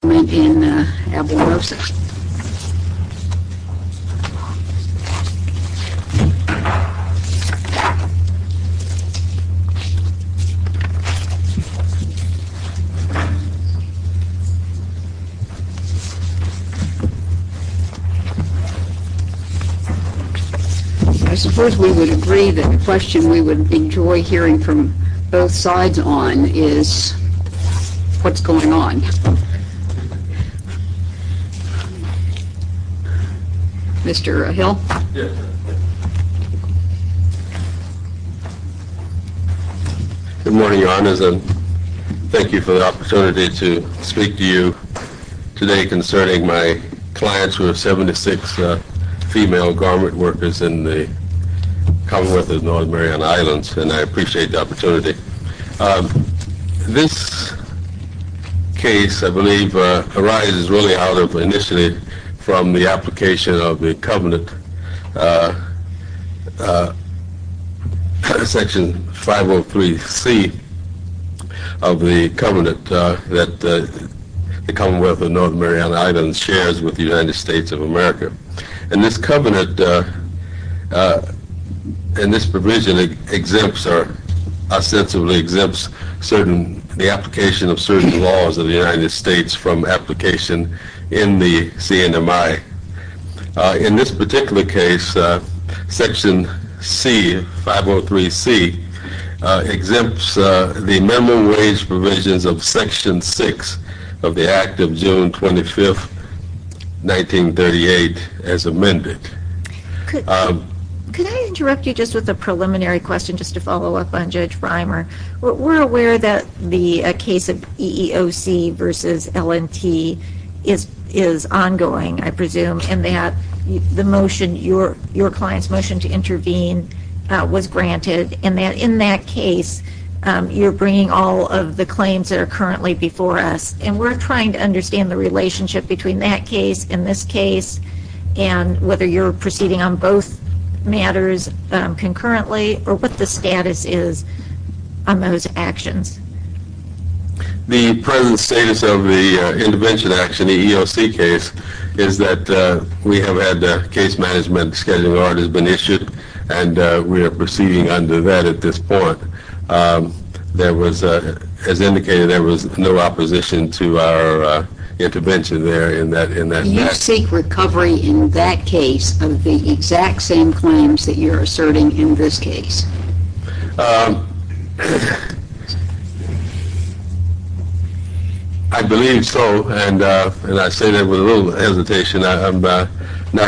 I suppose we would agree that the question we would enjoy hearing from both sides on is what's going on. Mr. Hill. Good morning, Your Honors, and thank you for the opportunity to speak to you today concerning my clients who are 76 female garment workers in the Commonwealth of North Mariana Islands, and I appreciate the opportunity. This case, I believe, arises really out of, initially, from the application of the Covenant, Section 503C of the Covenant that the Commonwealth of North Mariana Islands shares with the United States of America. And this Covenant, and this provision exempts, or ostensibly exempts, the application of certain laws of the United States from application in the CNMI. In this particular case, Section 503C exempts the minimum wage provisions of Section 6 of the Act of June 25th, 1938, as amended. Could I interrupt you just with a preliminary question, just to follow up on Judge Reimer? We're aware that the case of EEOC v. L & T is ongoing, I presume, and that your client's motion to intervene was granted, and that in that case, you're bringing all of the claims that are currently before us. And we're trying to understand the relationship between that case and this case, and whether you're proceeding on both matters concurrently, or what the status is on those actions. The present status of the intervention action, the EEOC case, is that we have had case management schedule already been issued, and we are proceeding under that at this point. There was, as indicated, there was no opposition to our intervention there in that matter. Do you seek recovery in that case of the exact same claims that you're asserting in this case? I believe so, and I say that with a little hesitation. I'm not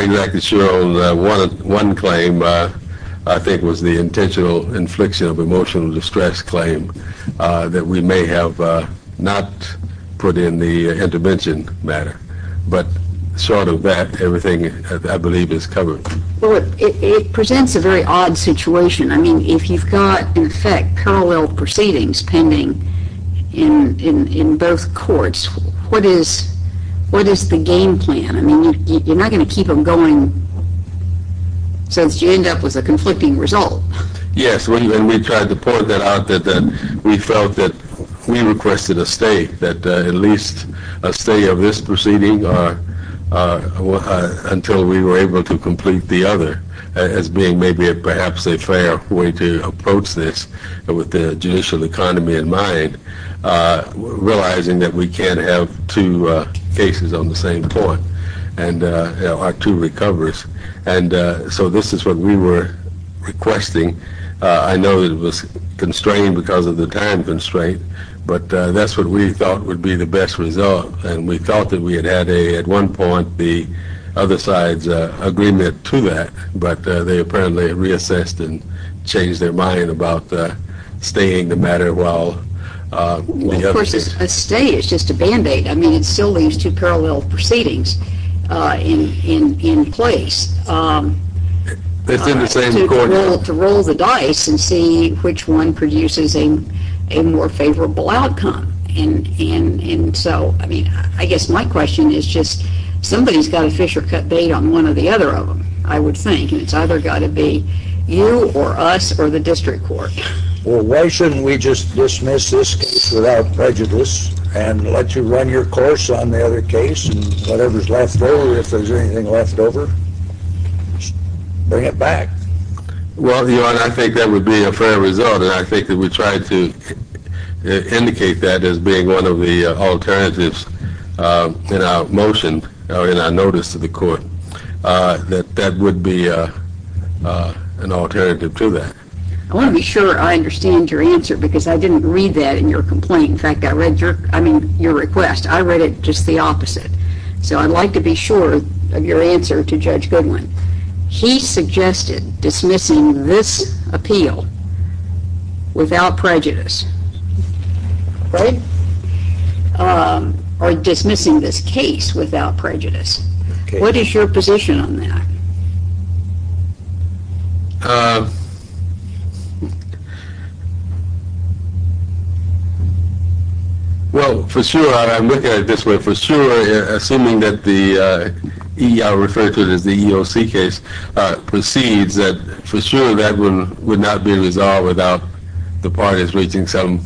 exactly sure on one claim, I think it was the intentional infliction of emotional distress claim, that we may have not put in the intervention matter. But short of that, everything, I believe, is covered. It presents a very odd situation. I mean, if you've got, in effect, parallel proceedings pending in both courts, what is the game plan? I mean, you're not going to keep them going since you end up with a conflicting result. Yes, and we tried to point that out that we felt that we requested a stay, that at least a stay of this proceeding until we were able to complete the other, as being maybe perhaps a fair way to approach this with the judicial economy in mind, realizing that we can't have two cases on the same court, or two recovers. And so this is what we were requesting. I know it was constrained because of the time constraint, but that's what we thought would be the best result. And we thought that we had had, at one point, the other side's agreement to that, but they apparently reassessed and changed their mind about staying the matter while the others agreed. A stay is just a Band-Aid. I mean, it still leaves two parallel proceedings in place to roll the dice and see which one produces a more favorable outcome. And so, I mean, I guess my question is just, somebody's got to fish or cut bait on one of the other of them, I would think, and it's either got to be you or us or the district court. Well, why shouldn't we just dismiss this case without prejudice and let you run your course on the other case and whatever's left over, if there's anything left over, bring it back? Well, Your Honor, I think that would be a fair result and I think that we tried to indicate that as being one of the alternatives in our motion, or in our notice to the court, that that would be an alternative to that. I want to be sure I understand your answer because I didn't read that in your complaint. In fact, I read your request. I read it just the opposite. So I'd like to be sure of your answer to Judge Goodwin. He suggested dismissing this appeal without prejudice, right? Or dismissing this case without prejudice. What is your position on that? Well, for sure, I'm looking at it this way, for sure, assuming that the EEOC case proceeds, for sure that would not be resolved without the parties reaching some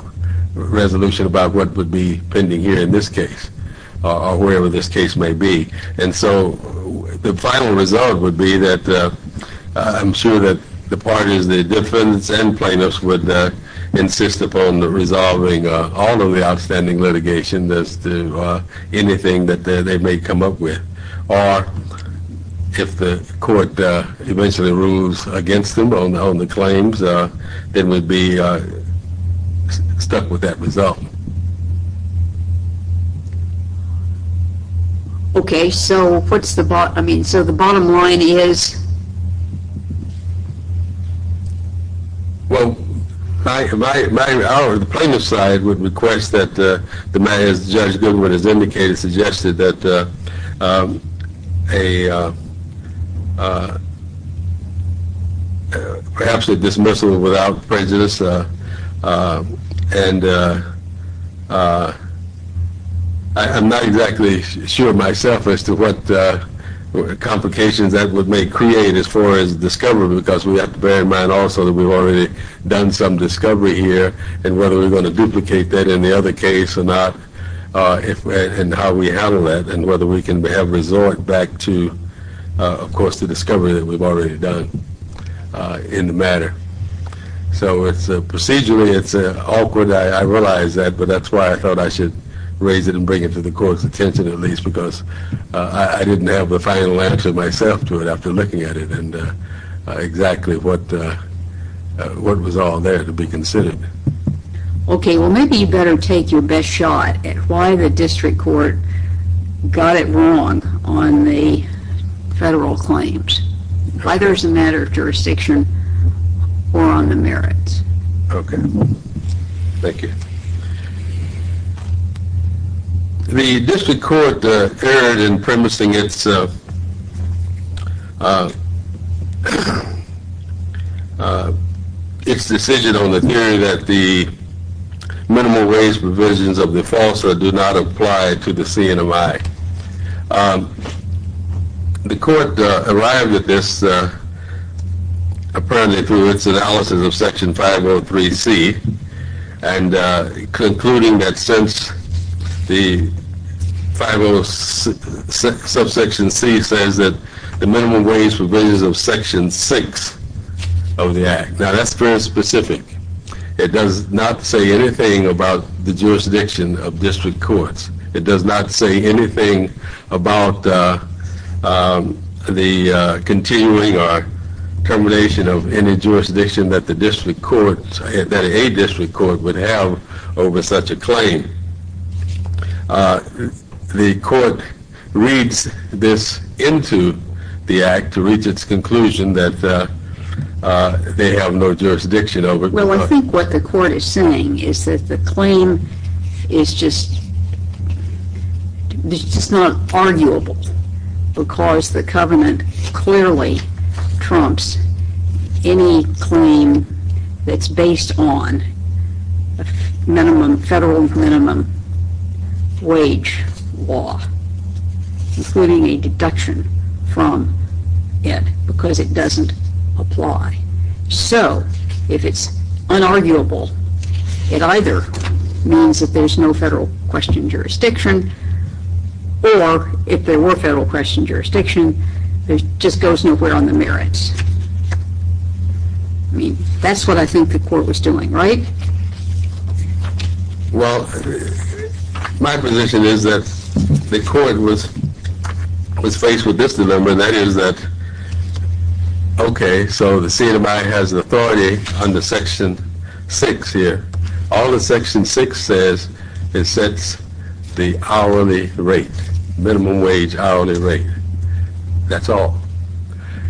resolution about what would be pending here in this case, or wherever this case may be. And so the final result would be that I'm sure that the parties, the defendants and plaintiffs would insist upon resolving all of the outstanding litigation as to anything that they may come up with. Or if the court eventually rules against them on the claims, they would be stuck with that result. Okay. Okay, so what's the bottom line, I mean, so the bottom line is? Well, our plaintiff's side would request that the man, as Judge Goodwin has indicated, suggested that perhaps a dismissal without prejudice. And I'm not exactly sure myself as to what complications that would may create as far as discovery, because we have to bear in mind also that we've already done some discovery here and whether we're going to duplicate that in the other case or not, and how we will handle that and whether we can resort back to, of course, the discovery that we've already done in the matter. So procedurally it's awkward, I realize that, but that's why I thought I should raise it and bring it to the court's attention at least, because I didn't have the final answer myself to it after looking at it and exactly what was all there to be considered. Okay, well maybe you better take your best shot at why the district court got it wrong on the federal claims, whether it's a matter of jurisdiction or on the merits. Okay, thank you. The district court erred in premising its decision on the theory that the minimal wage provisions of the FALSA do not apply to the CNMI. The court arrived at this apparently through its analysis of Section 503C and concluding that since the 506, subsection C says that the minimum wage provisions of Section 6 of the act, now that's very specific. It does not say anything about the jurisdiction of district courts. It does not say anything about the continuing or termination of any jurisdiction that the district court, that a district court would have over such a claim. The court reads this into the act to reach its conclusion that they have no jurisdiction over it. Well, I think what the court is saying is that the claim is just, it's just not arguable because the covenant clearly trumps any claim that's based on minimum, federal minimum wage law, including a deduction from it because it doesn't apply. So, if it's unarguable, it either means that there's no federal question jurisdiction or if there were federal question jurisdiction, it just goes nowhere on the merits. I mean, that's what I think the court was doing, right? Well, my position is that the court was faced with this dilemma and that is that, okay, so the CMI has authority under Section 6 here. All that Section 6 says is sets the hourly rate, minimum wage hourly rate. That's all.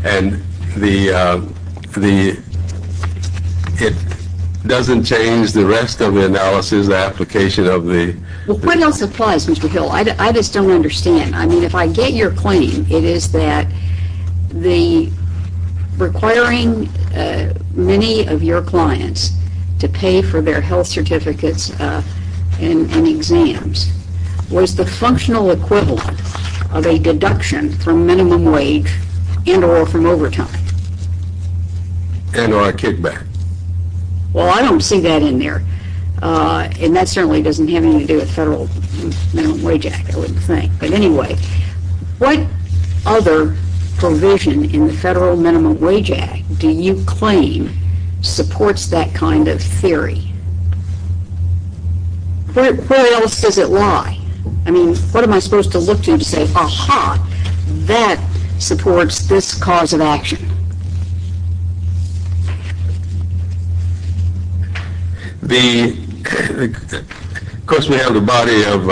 And the, it doesn't change the rest of the analysis, the application of the. Well, what else applies, Mr. Hill? I just don't understand. I mean, if I get your claim, it is that the requiring many of your clients to pay for their health certificates and exams was the functional equivalent of a deduction from minimum wage and or from overtime. And or a kickback. Well, I don't see that in there. And that certainly doesn't have anything to do with Federal Minimum Wage Act, I would What other provision in the Federal Minimum Wage Act do you claim supports that kind of theory? Where else does it lie? I mean, what am I supposed to look to to say, aha, that supports this cause of action? The, of course, we have the body of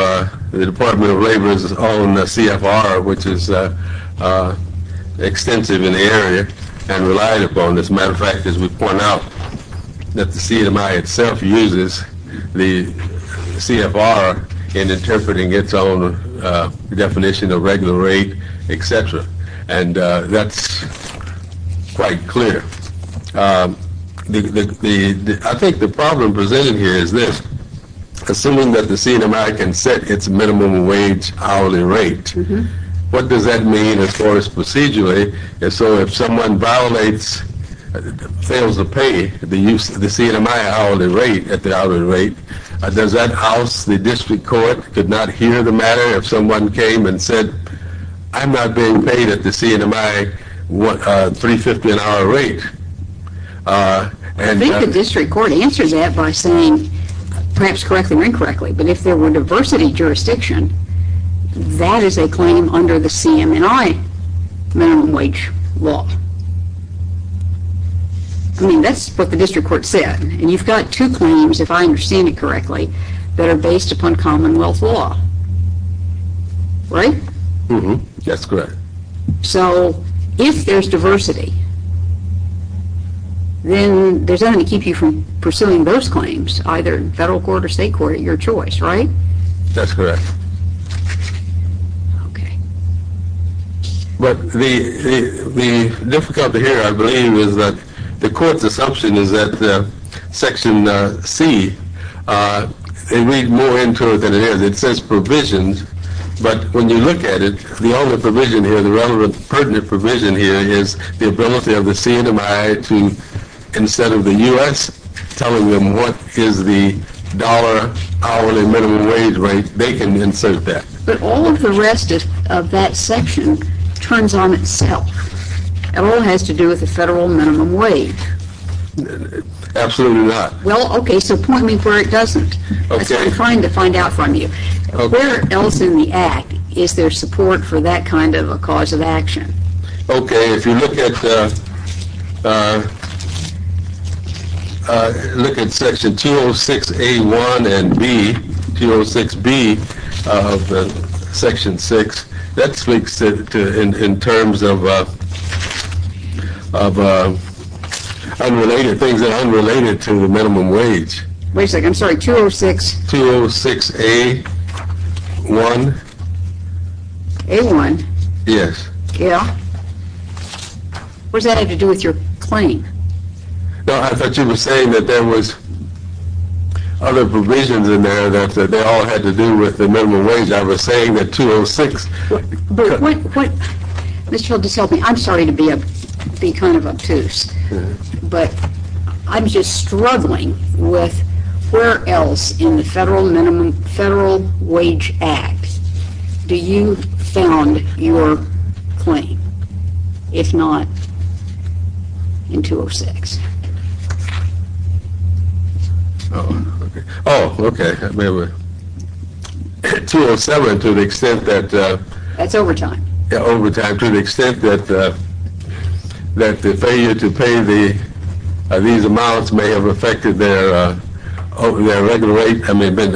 the Department of Labor's own CFR, which is extensive in the area and relied upon. As a matter of fact, as we point out, that the CMI itself uses the CFR in interpreting its own definition of regular rate, et cetera. And that's quite clear. I think the problem presented here is this. Assuming that the CMI can set its minimum wage hourly rate, what does that mean as far as procedurally? And so if someone violates, fails to pay the use of the CMI hourly rate at the hourly rate, does that house the district court could not hear the matter if someone came and said, I'm not being paid at the CMI $3.50 an hour rate. I think the district court answers that by saying perhaps correctly or incorrectly, but if there were diversity jurisdiction, that is a claim under the CMI minimum wage law. I mean, that's what the district court said. And you've got two claims, if I understand it correctly, that are based upon commonwealth law, right? That's correct. So if there's diversity, then there's nothing to keep you from pursuing those claims, either in federal court or state court, your choice, right? That's correct. Okay. But the difficulty here, I believe, is that the court's assumption is that section C, they read more into it than it is. It says provisions, but when you look at it, the only provision here, the relevant pertinent provision here is the ability of the CMI to, instead of the U.S. telling them what is the dollar hourly minimum wage rate, they can insert that. But all of the rest of that section turns on itself. It all has to do with the federal minimum wage. Absolutely not. Well, okay, so point me where it doesn't. That's what I'm trying to find out from you. Where else in the act is there support for that kind of a cause of action? Okay, if you look at section 206A1 and 206B of section 6, that speaks in terms of unrelated things that are unrelated to the minimum wage. Wait a second. I'm sorry, 206? 206A1. A1? Yes. Yeah? What does that have to do with your claim? No, I thought you were saying that there was other provisions in there that they all had to do with the minimum wage. I was saying that 206. Mr. Hill, just help me. I'm sorry to be kind of obtuse. But I'm just struggling with where else in the Federal Minimum Federal Wage Act do you found your claim, if not in 206? Oh, okay. 207, to the extent that- That's overtime. Overtime, to the extent that the failure to pay these amounts may have affected their regular rate. I mean, it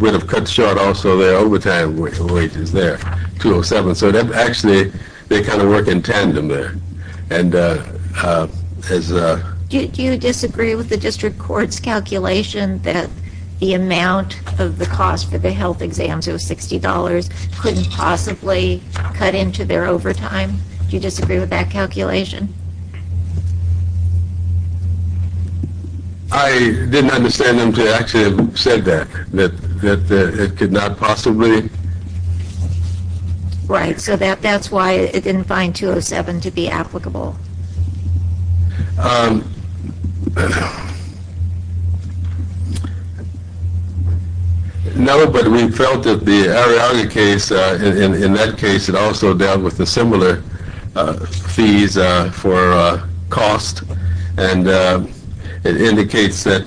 would have cut short also their overtime wages there, 207. So actually, they kind of work in tandem there. Do you disagree with the district court's calculation that the amount of the cost for health exams of $60 couldn't possibly cut into their overtime? Do you disagree with that calculation? I didn't understand them to actually have said that, that it could not possibly- Right, so that's why it didn't find 207 to be applicable. No, but we felt that the Arriaga case, in that case, it also dealt with the similar fees for cost. And it indicates that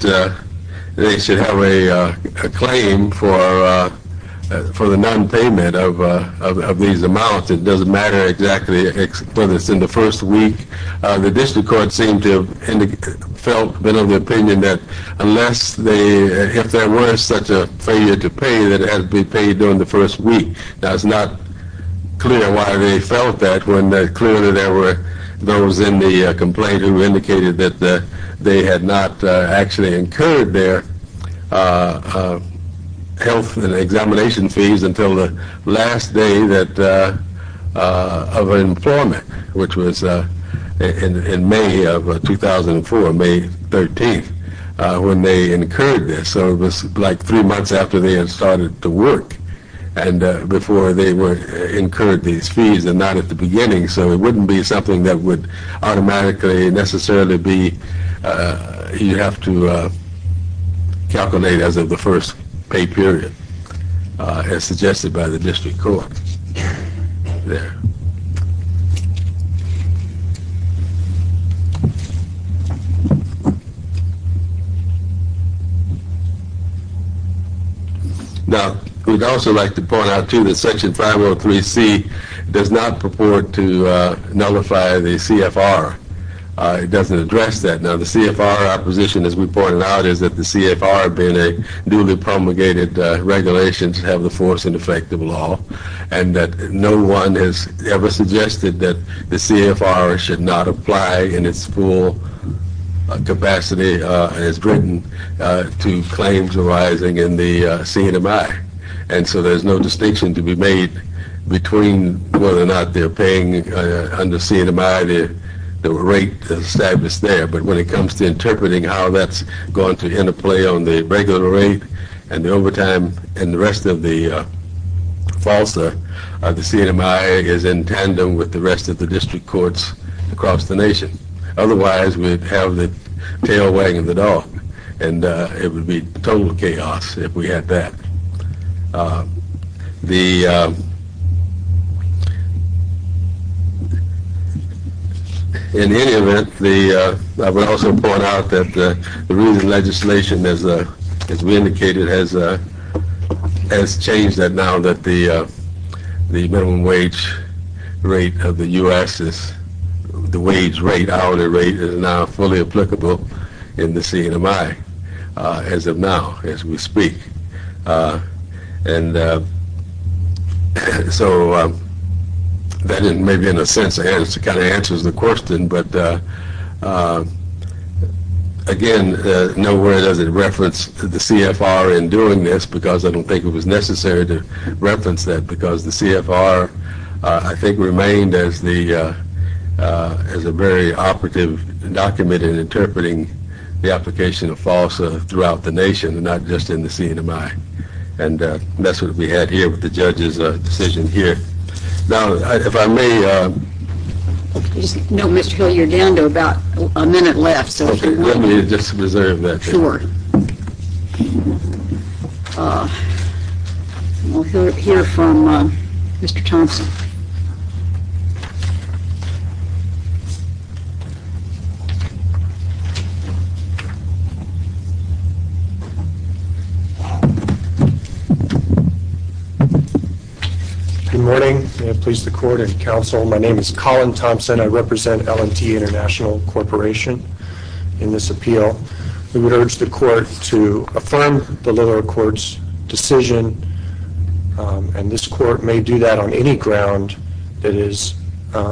they should have a claim for the non-payment of these amounts. It doesn't matter exactly whether it's in the first week. The district court seemed to have felt a bit of an opinion that unless they- if there were such a failure to pay, that it had to be paid during the first week. Now, it's not clear why they felt that when clearly there were those in the complaint who indicated that they had not actually incurred their health and examination fees until the last day of employment, which was in May of 2004, May 13th, when they incurred this. So it was like three months after they had started to work and before they incurred these fees and not at the beginning, so it wouldn't be something that would automatically necessarily be- you'd have to calculate as of the first pay period as suggested by the district court. Now, we'd also like to point out, too, that Section 503C does not purport to nullify the CFR. It doesn't address that. Now, the CFR opposition, as we pointed out, is that the CFR being a duly promulgated regulation to have the force and effect of law and that no one has ever suggested that the CFR should not apply in its full capacity as written to claims arising in the CNMI, and so there's no distinction to be made between whether or not they're paying under CNMI the rate that's established there, but when it comes to interpreting how that's going to interplay on the regular rate and the overtime and the rest of the FALSA, the CNMI is in tandem with the rest of the district courts across the nation. Otherwise, we'd have the tail wagging the case. In any event, I would also point out that the recent legislation, as we indicated, has changed that now that the minimum wage rate of the U.S. is- the wage rate, hourly rate, is now fully applicable in the CNMI as of now, as we speak, and so that maybe in a sense kind of answers the question, but again, nowhere does it reference the CFR in doing this because I don't think it was necessary to reference that because the CFR, I think, remained as a very operative document in interpreting the application of FALSA throughout the nation and not just in the CNMI, and that's what we had here with the judge's decision here. Now, if I may- No, Mr. Hill, you're down to about a minute left, so if you want to- Let me just reserve that. Sure. We'll hear from Mr. Thompson. Good morning. May it please the court and counsel, my name is Colin Thompson. I represent L&T International Corporation. In this appeal, we would urge the court to affirm the lower court's decision, and this court may do that on any ground that is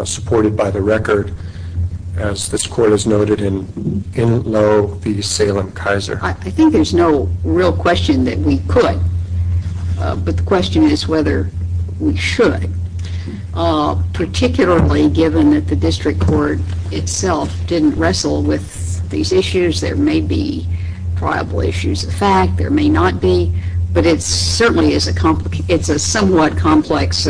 supported by the record as this court has noted in Enloe v. Salem-Kaiser. I think there's no real question that we could, but the question is whether we should, particularly given that the district court itself didn't wrestle with these issues. There may be issues of fact, there may not be, but it certainly is a somewhat complex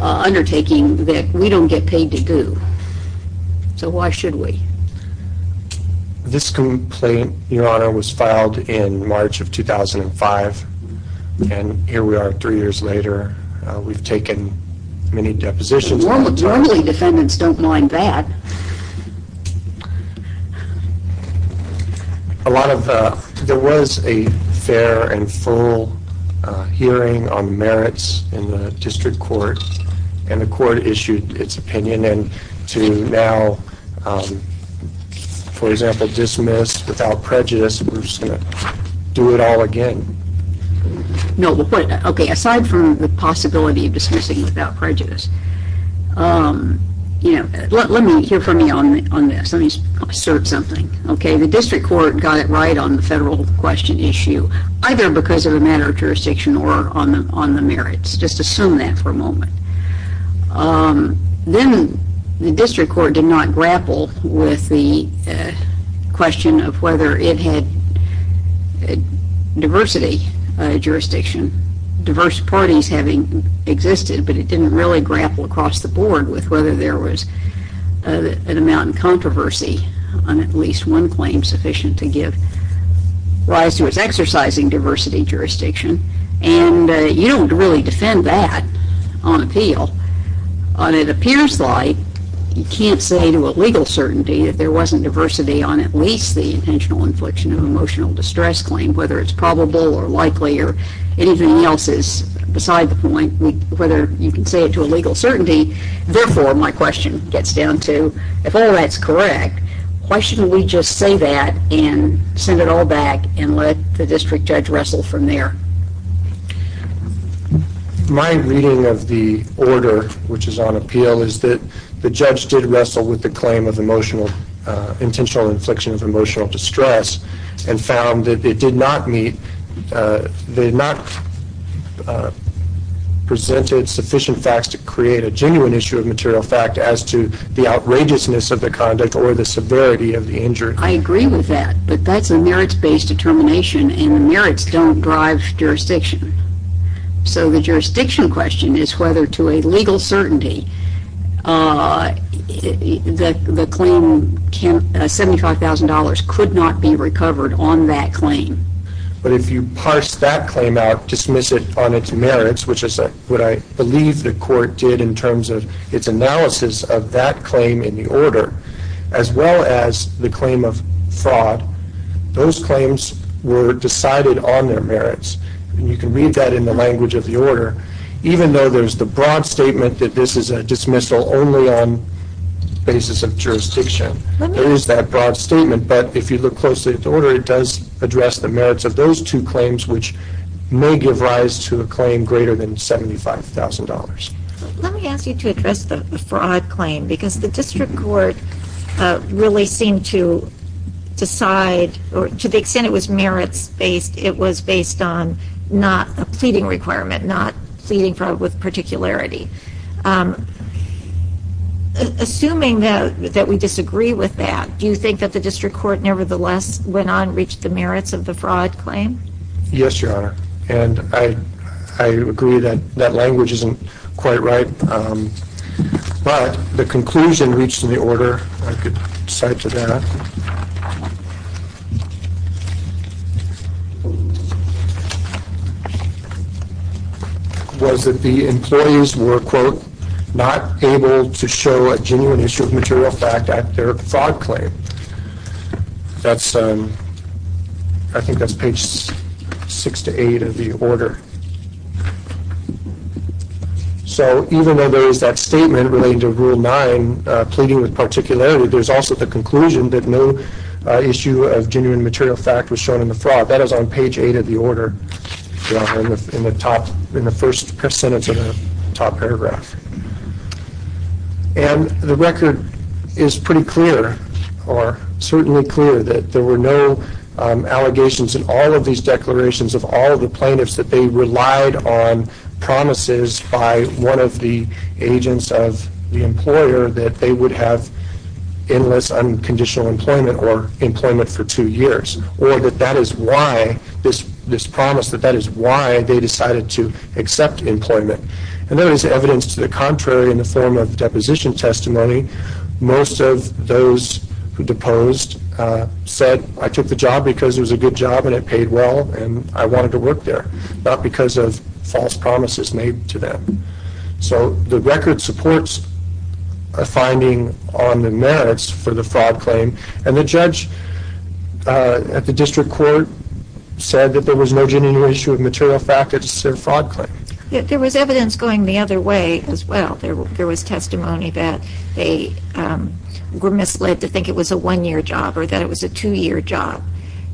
undertaking that we don't get paid to do, so why should we? This complaint, Your Honor, was filed in March of 2005, and here we are three years later. We've taken many depositions- Well, normally defendants don't mind that. There was a fair and full hearing on merits in the district court, and the court issued its opinion, and to now, for example, dismiss without prejudice, we're just going to do it all again. No, but aside from the possibility of dismissing without prejudice, let me hear you. Let me assert something. The district court got it right on the federal question issue, either because of a matter of jurisdiction or on the merits. Just assume that for a moment. Then the district court did not grapple with the question of whether it had diversity jurisdiction, diverse parties having existed, but it didn't really grapple across the board with whether there was an amount of controversy on at least one claim sufficient to give rise to its exercising diversity jurisdiction, and you don't really defend that on appeal. It appears like you can't say to a legal certainty if there wasn't diversity on at least the intentional infliction of emotional distress claim, whether it's probable or likely or anything else is beside the point, whether you can say it to a legal certainty. Therefore, my question gets down to, if all that's correct, why shouldn't we just say that and send it all back and let the district judge wrestle from there? My reading of the order, which is on appeal, is that the judge did wrestle with the claim of presented sufficient facts to create a genuine issue of material fact as to the outrageousness of the conduct or the severity of the injury. I agree with that, but that's a merits-based determination and the merits don't drive jurisdiction. So the jurisdiction question is whether to a legal certainty the claim $75,000 could not be recovered on that claim. But if you parse that claim out, dismiss it on its merits, which is what I believe the court did in terms of its analysis of that claim in the order, as well as the claim of fraud, those claims were decided on their merits. And you can read that in the language of the order, even though there's the broad statement that this is a dismissal only on the basis of jurisdiction. There is that broad statement, but if you look closely at the order, it does address the merits of those two claims, which may give rise to a claim greater than $75,000. Let me ask you to address the fraud claim, because the district court really seemed to decide, or to the extent it was merits-based, it was based on not a pleading requirement, not pleading fraud with particularity. Assuming that we disagree with that, do you think that the district court nevertheless went on and reached the merits of the fraud claim? Yes, Your Honor. And I agree that that language isn't quite right. But the conclusion reached in the order, I could cite to that, was that the employees were, quote, not able to show a genuine issue of material fact at their fraud claim. I think that's page 6 to 8 of the order. So even though there is that statement relating to Rule 9, pleading with particularity, there's also the conclusion that no issue of genuine material fact was shown in the fraud. That is on page 8 of the order in the first sentence of the top paragraph. And the record is pretty clear, or certainly clear, that there were no allegations in all of these declarations of all of the plaintiffs that they relied on promises by one of the agents of the employer that they would have endless unconditional employment or employment for two years, or that that is why, this promise, that that is why they decided to accept employment. And there is evidence to the contrary in the form of deposition testimony. Most of those who deposed said, I took the job because it was a good job and it paid well, and I wanted to work there, not because of false promises made to them. So the record supports a finding on the merits for the fraud claim. And the judge at the district court said that there was no genuine issue of material fact at their fraud claim. There was evidence going the other way as well. There was testimony that they were misled to think it was a one-year job or that it was a two-year job,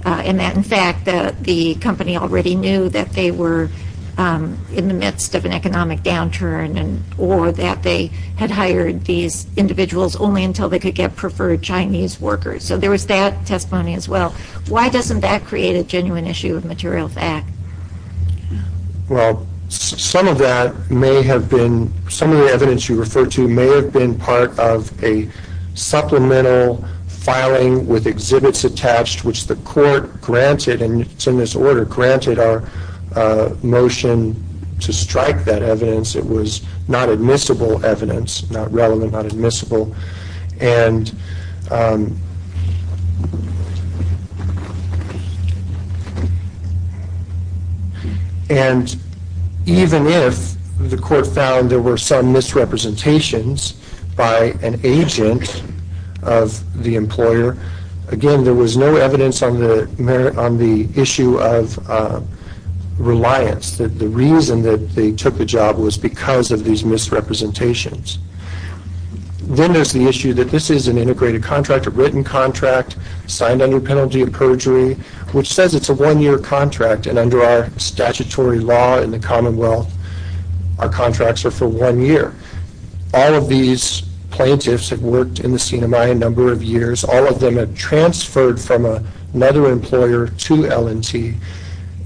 and that, in fact, the company already knew that they were in the midst of an economic downturn or that they had hired these individuals only until they could get preferred Chinese workers. So there was that testimony as well. Why doesn't that create a genuine issue of material fact? Well, some of that may have been, some of the evidence you refer to may have been part of a court granted, and it's in this order, granted our motion to strike that evidence. It was not admissible evidence, not relevant, not admissible. And even if the court found there were some misrepresentations by an agent of the employer, again, there was no evidence on the merit, on the issue of reliance, that the reason that they took the job was because of these misrepresentations. Then there's the issue that this is an integrated contract, a written contract, signed under penalty of perjury, which says it's a one-year contract, and under our statutory law in the Commonwealth, our contracts are for one year. All of these plaintiffs that worked in the CINEMAI a number of years, all of them have transferred from another employer to L&T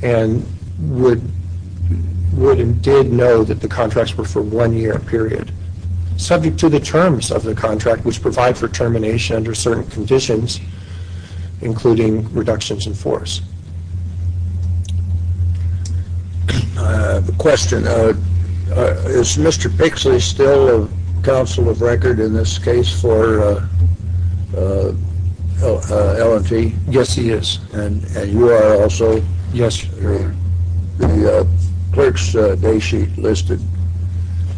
and would and did know that the contracts were for one-year period, subject to the terms of the contract, which provide for termination under certain conditions, including reductions in force. The question, is Mr. Pixley still a counsel of record in this case for L&T? Yes, he is. And you are also? Yes. The clerk's day sheet listed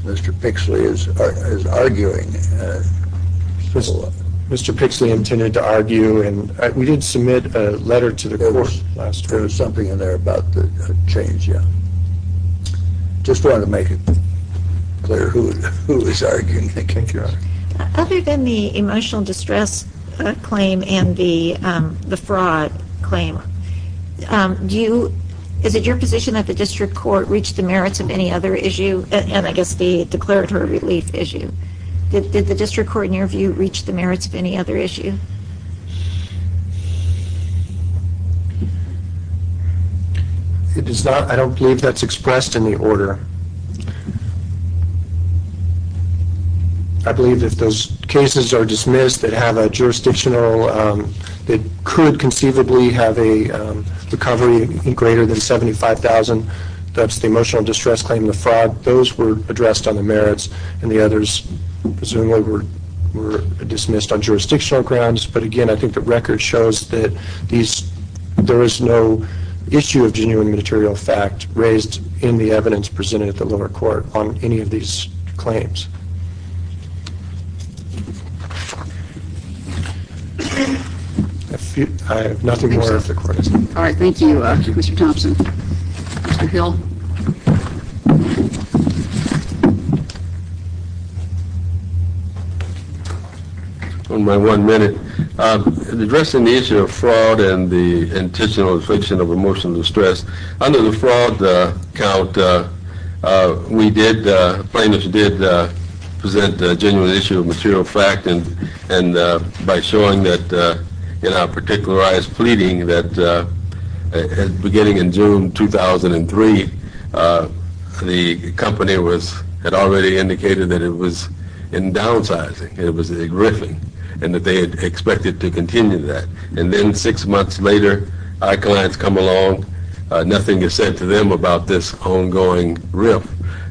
Mr. Pixley as arguing. Mr. Pixley intended to argue, and we did submit a letter to the court. There was something in there about the change, yeah. Just wanted to make it clear who was arguing. Other than the emotional distress claim and the fraud claim, is it your position that the district court reached the merits of any other issue, and I guess the declaratory relief issue? Did the district court, in your view, reach the merits of any other issue? I don't believe that is expressed in the order. I believe if those cases are dismissed that have a jurisdictional, that could conceivably have a recovery greater than $75,000, that is the emotional distress claim and the fraud, those were addressed on the merits, and the others presumably were dismissed on jurisdictional grounds, but again, I think the record shows that there is no issue of genuine material fact raised in the evidence presented at the lower court on any of these claims. I have nothing more if the court is done. All right, thank you, Mr. Thompson. Mr. Hill. One by one minute. Addressing the issue of fraud and the intentional infringement of emotional distress, under the fraud count, we did, plaintiffs did present a genuine issue of material fact, and by showing that in our particularized pleading that beginning in June 2003, the company had already indicated that it was in downsizing, it was a riffing, and that they had expected to continue that, and then six months later, our clients come along, nothing is said to them about this ongoing riff,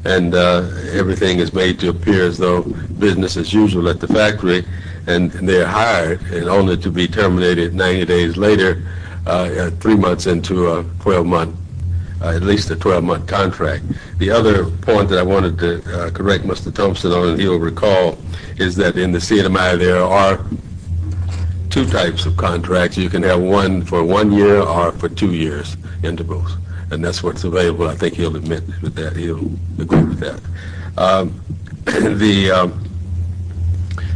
and everything is made to appear as though business as usual at the factory, and they are hired, and only to be terminated 90 days later, three months into a 12-month, at least a 12-month contract. The other point that I wanted to correct Mr. Thompson on, and he'll recall, is that in the CNMI, there are two types of contracts. You can have one for one year or for two years intervals, and that's what's available. I think he'll admit with that, he'll agree with that.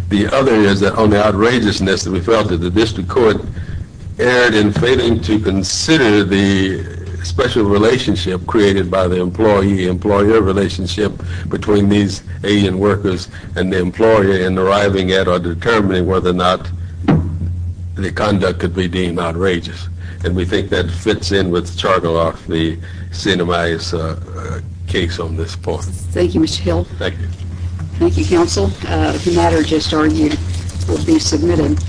The other is that on the outrageousness that we felt that the district court erred in failing to consider the special relationship created by the employee-employer relationship between these agent workers and the employer in arriving at or determining whether or not the conduct could be deemed outrageous, and we think that fits in with Chargill off the CNMI's case on this point. Thank you, Mr. Hill. Thank you. Thank you, counsel. The matter just argued will be submitted.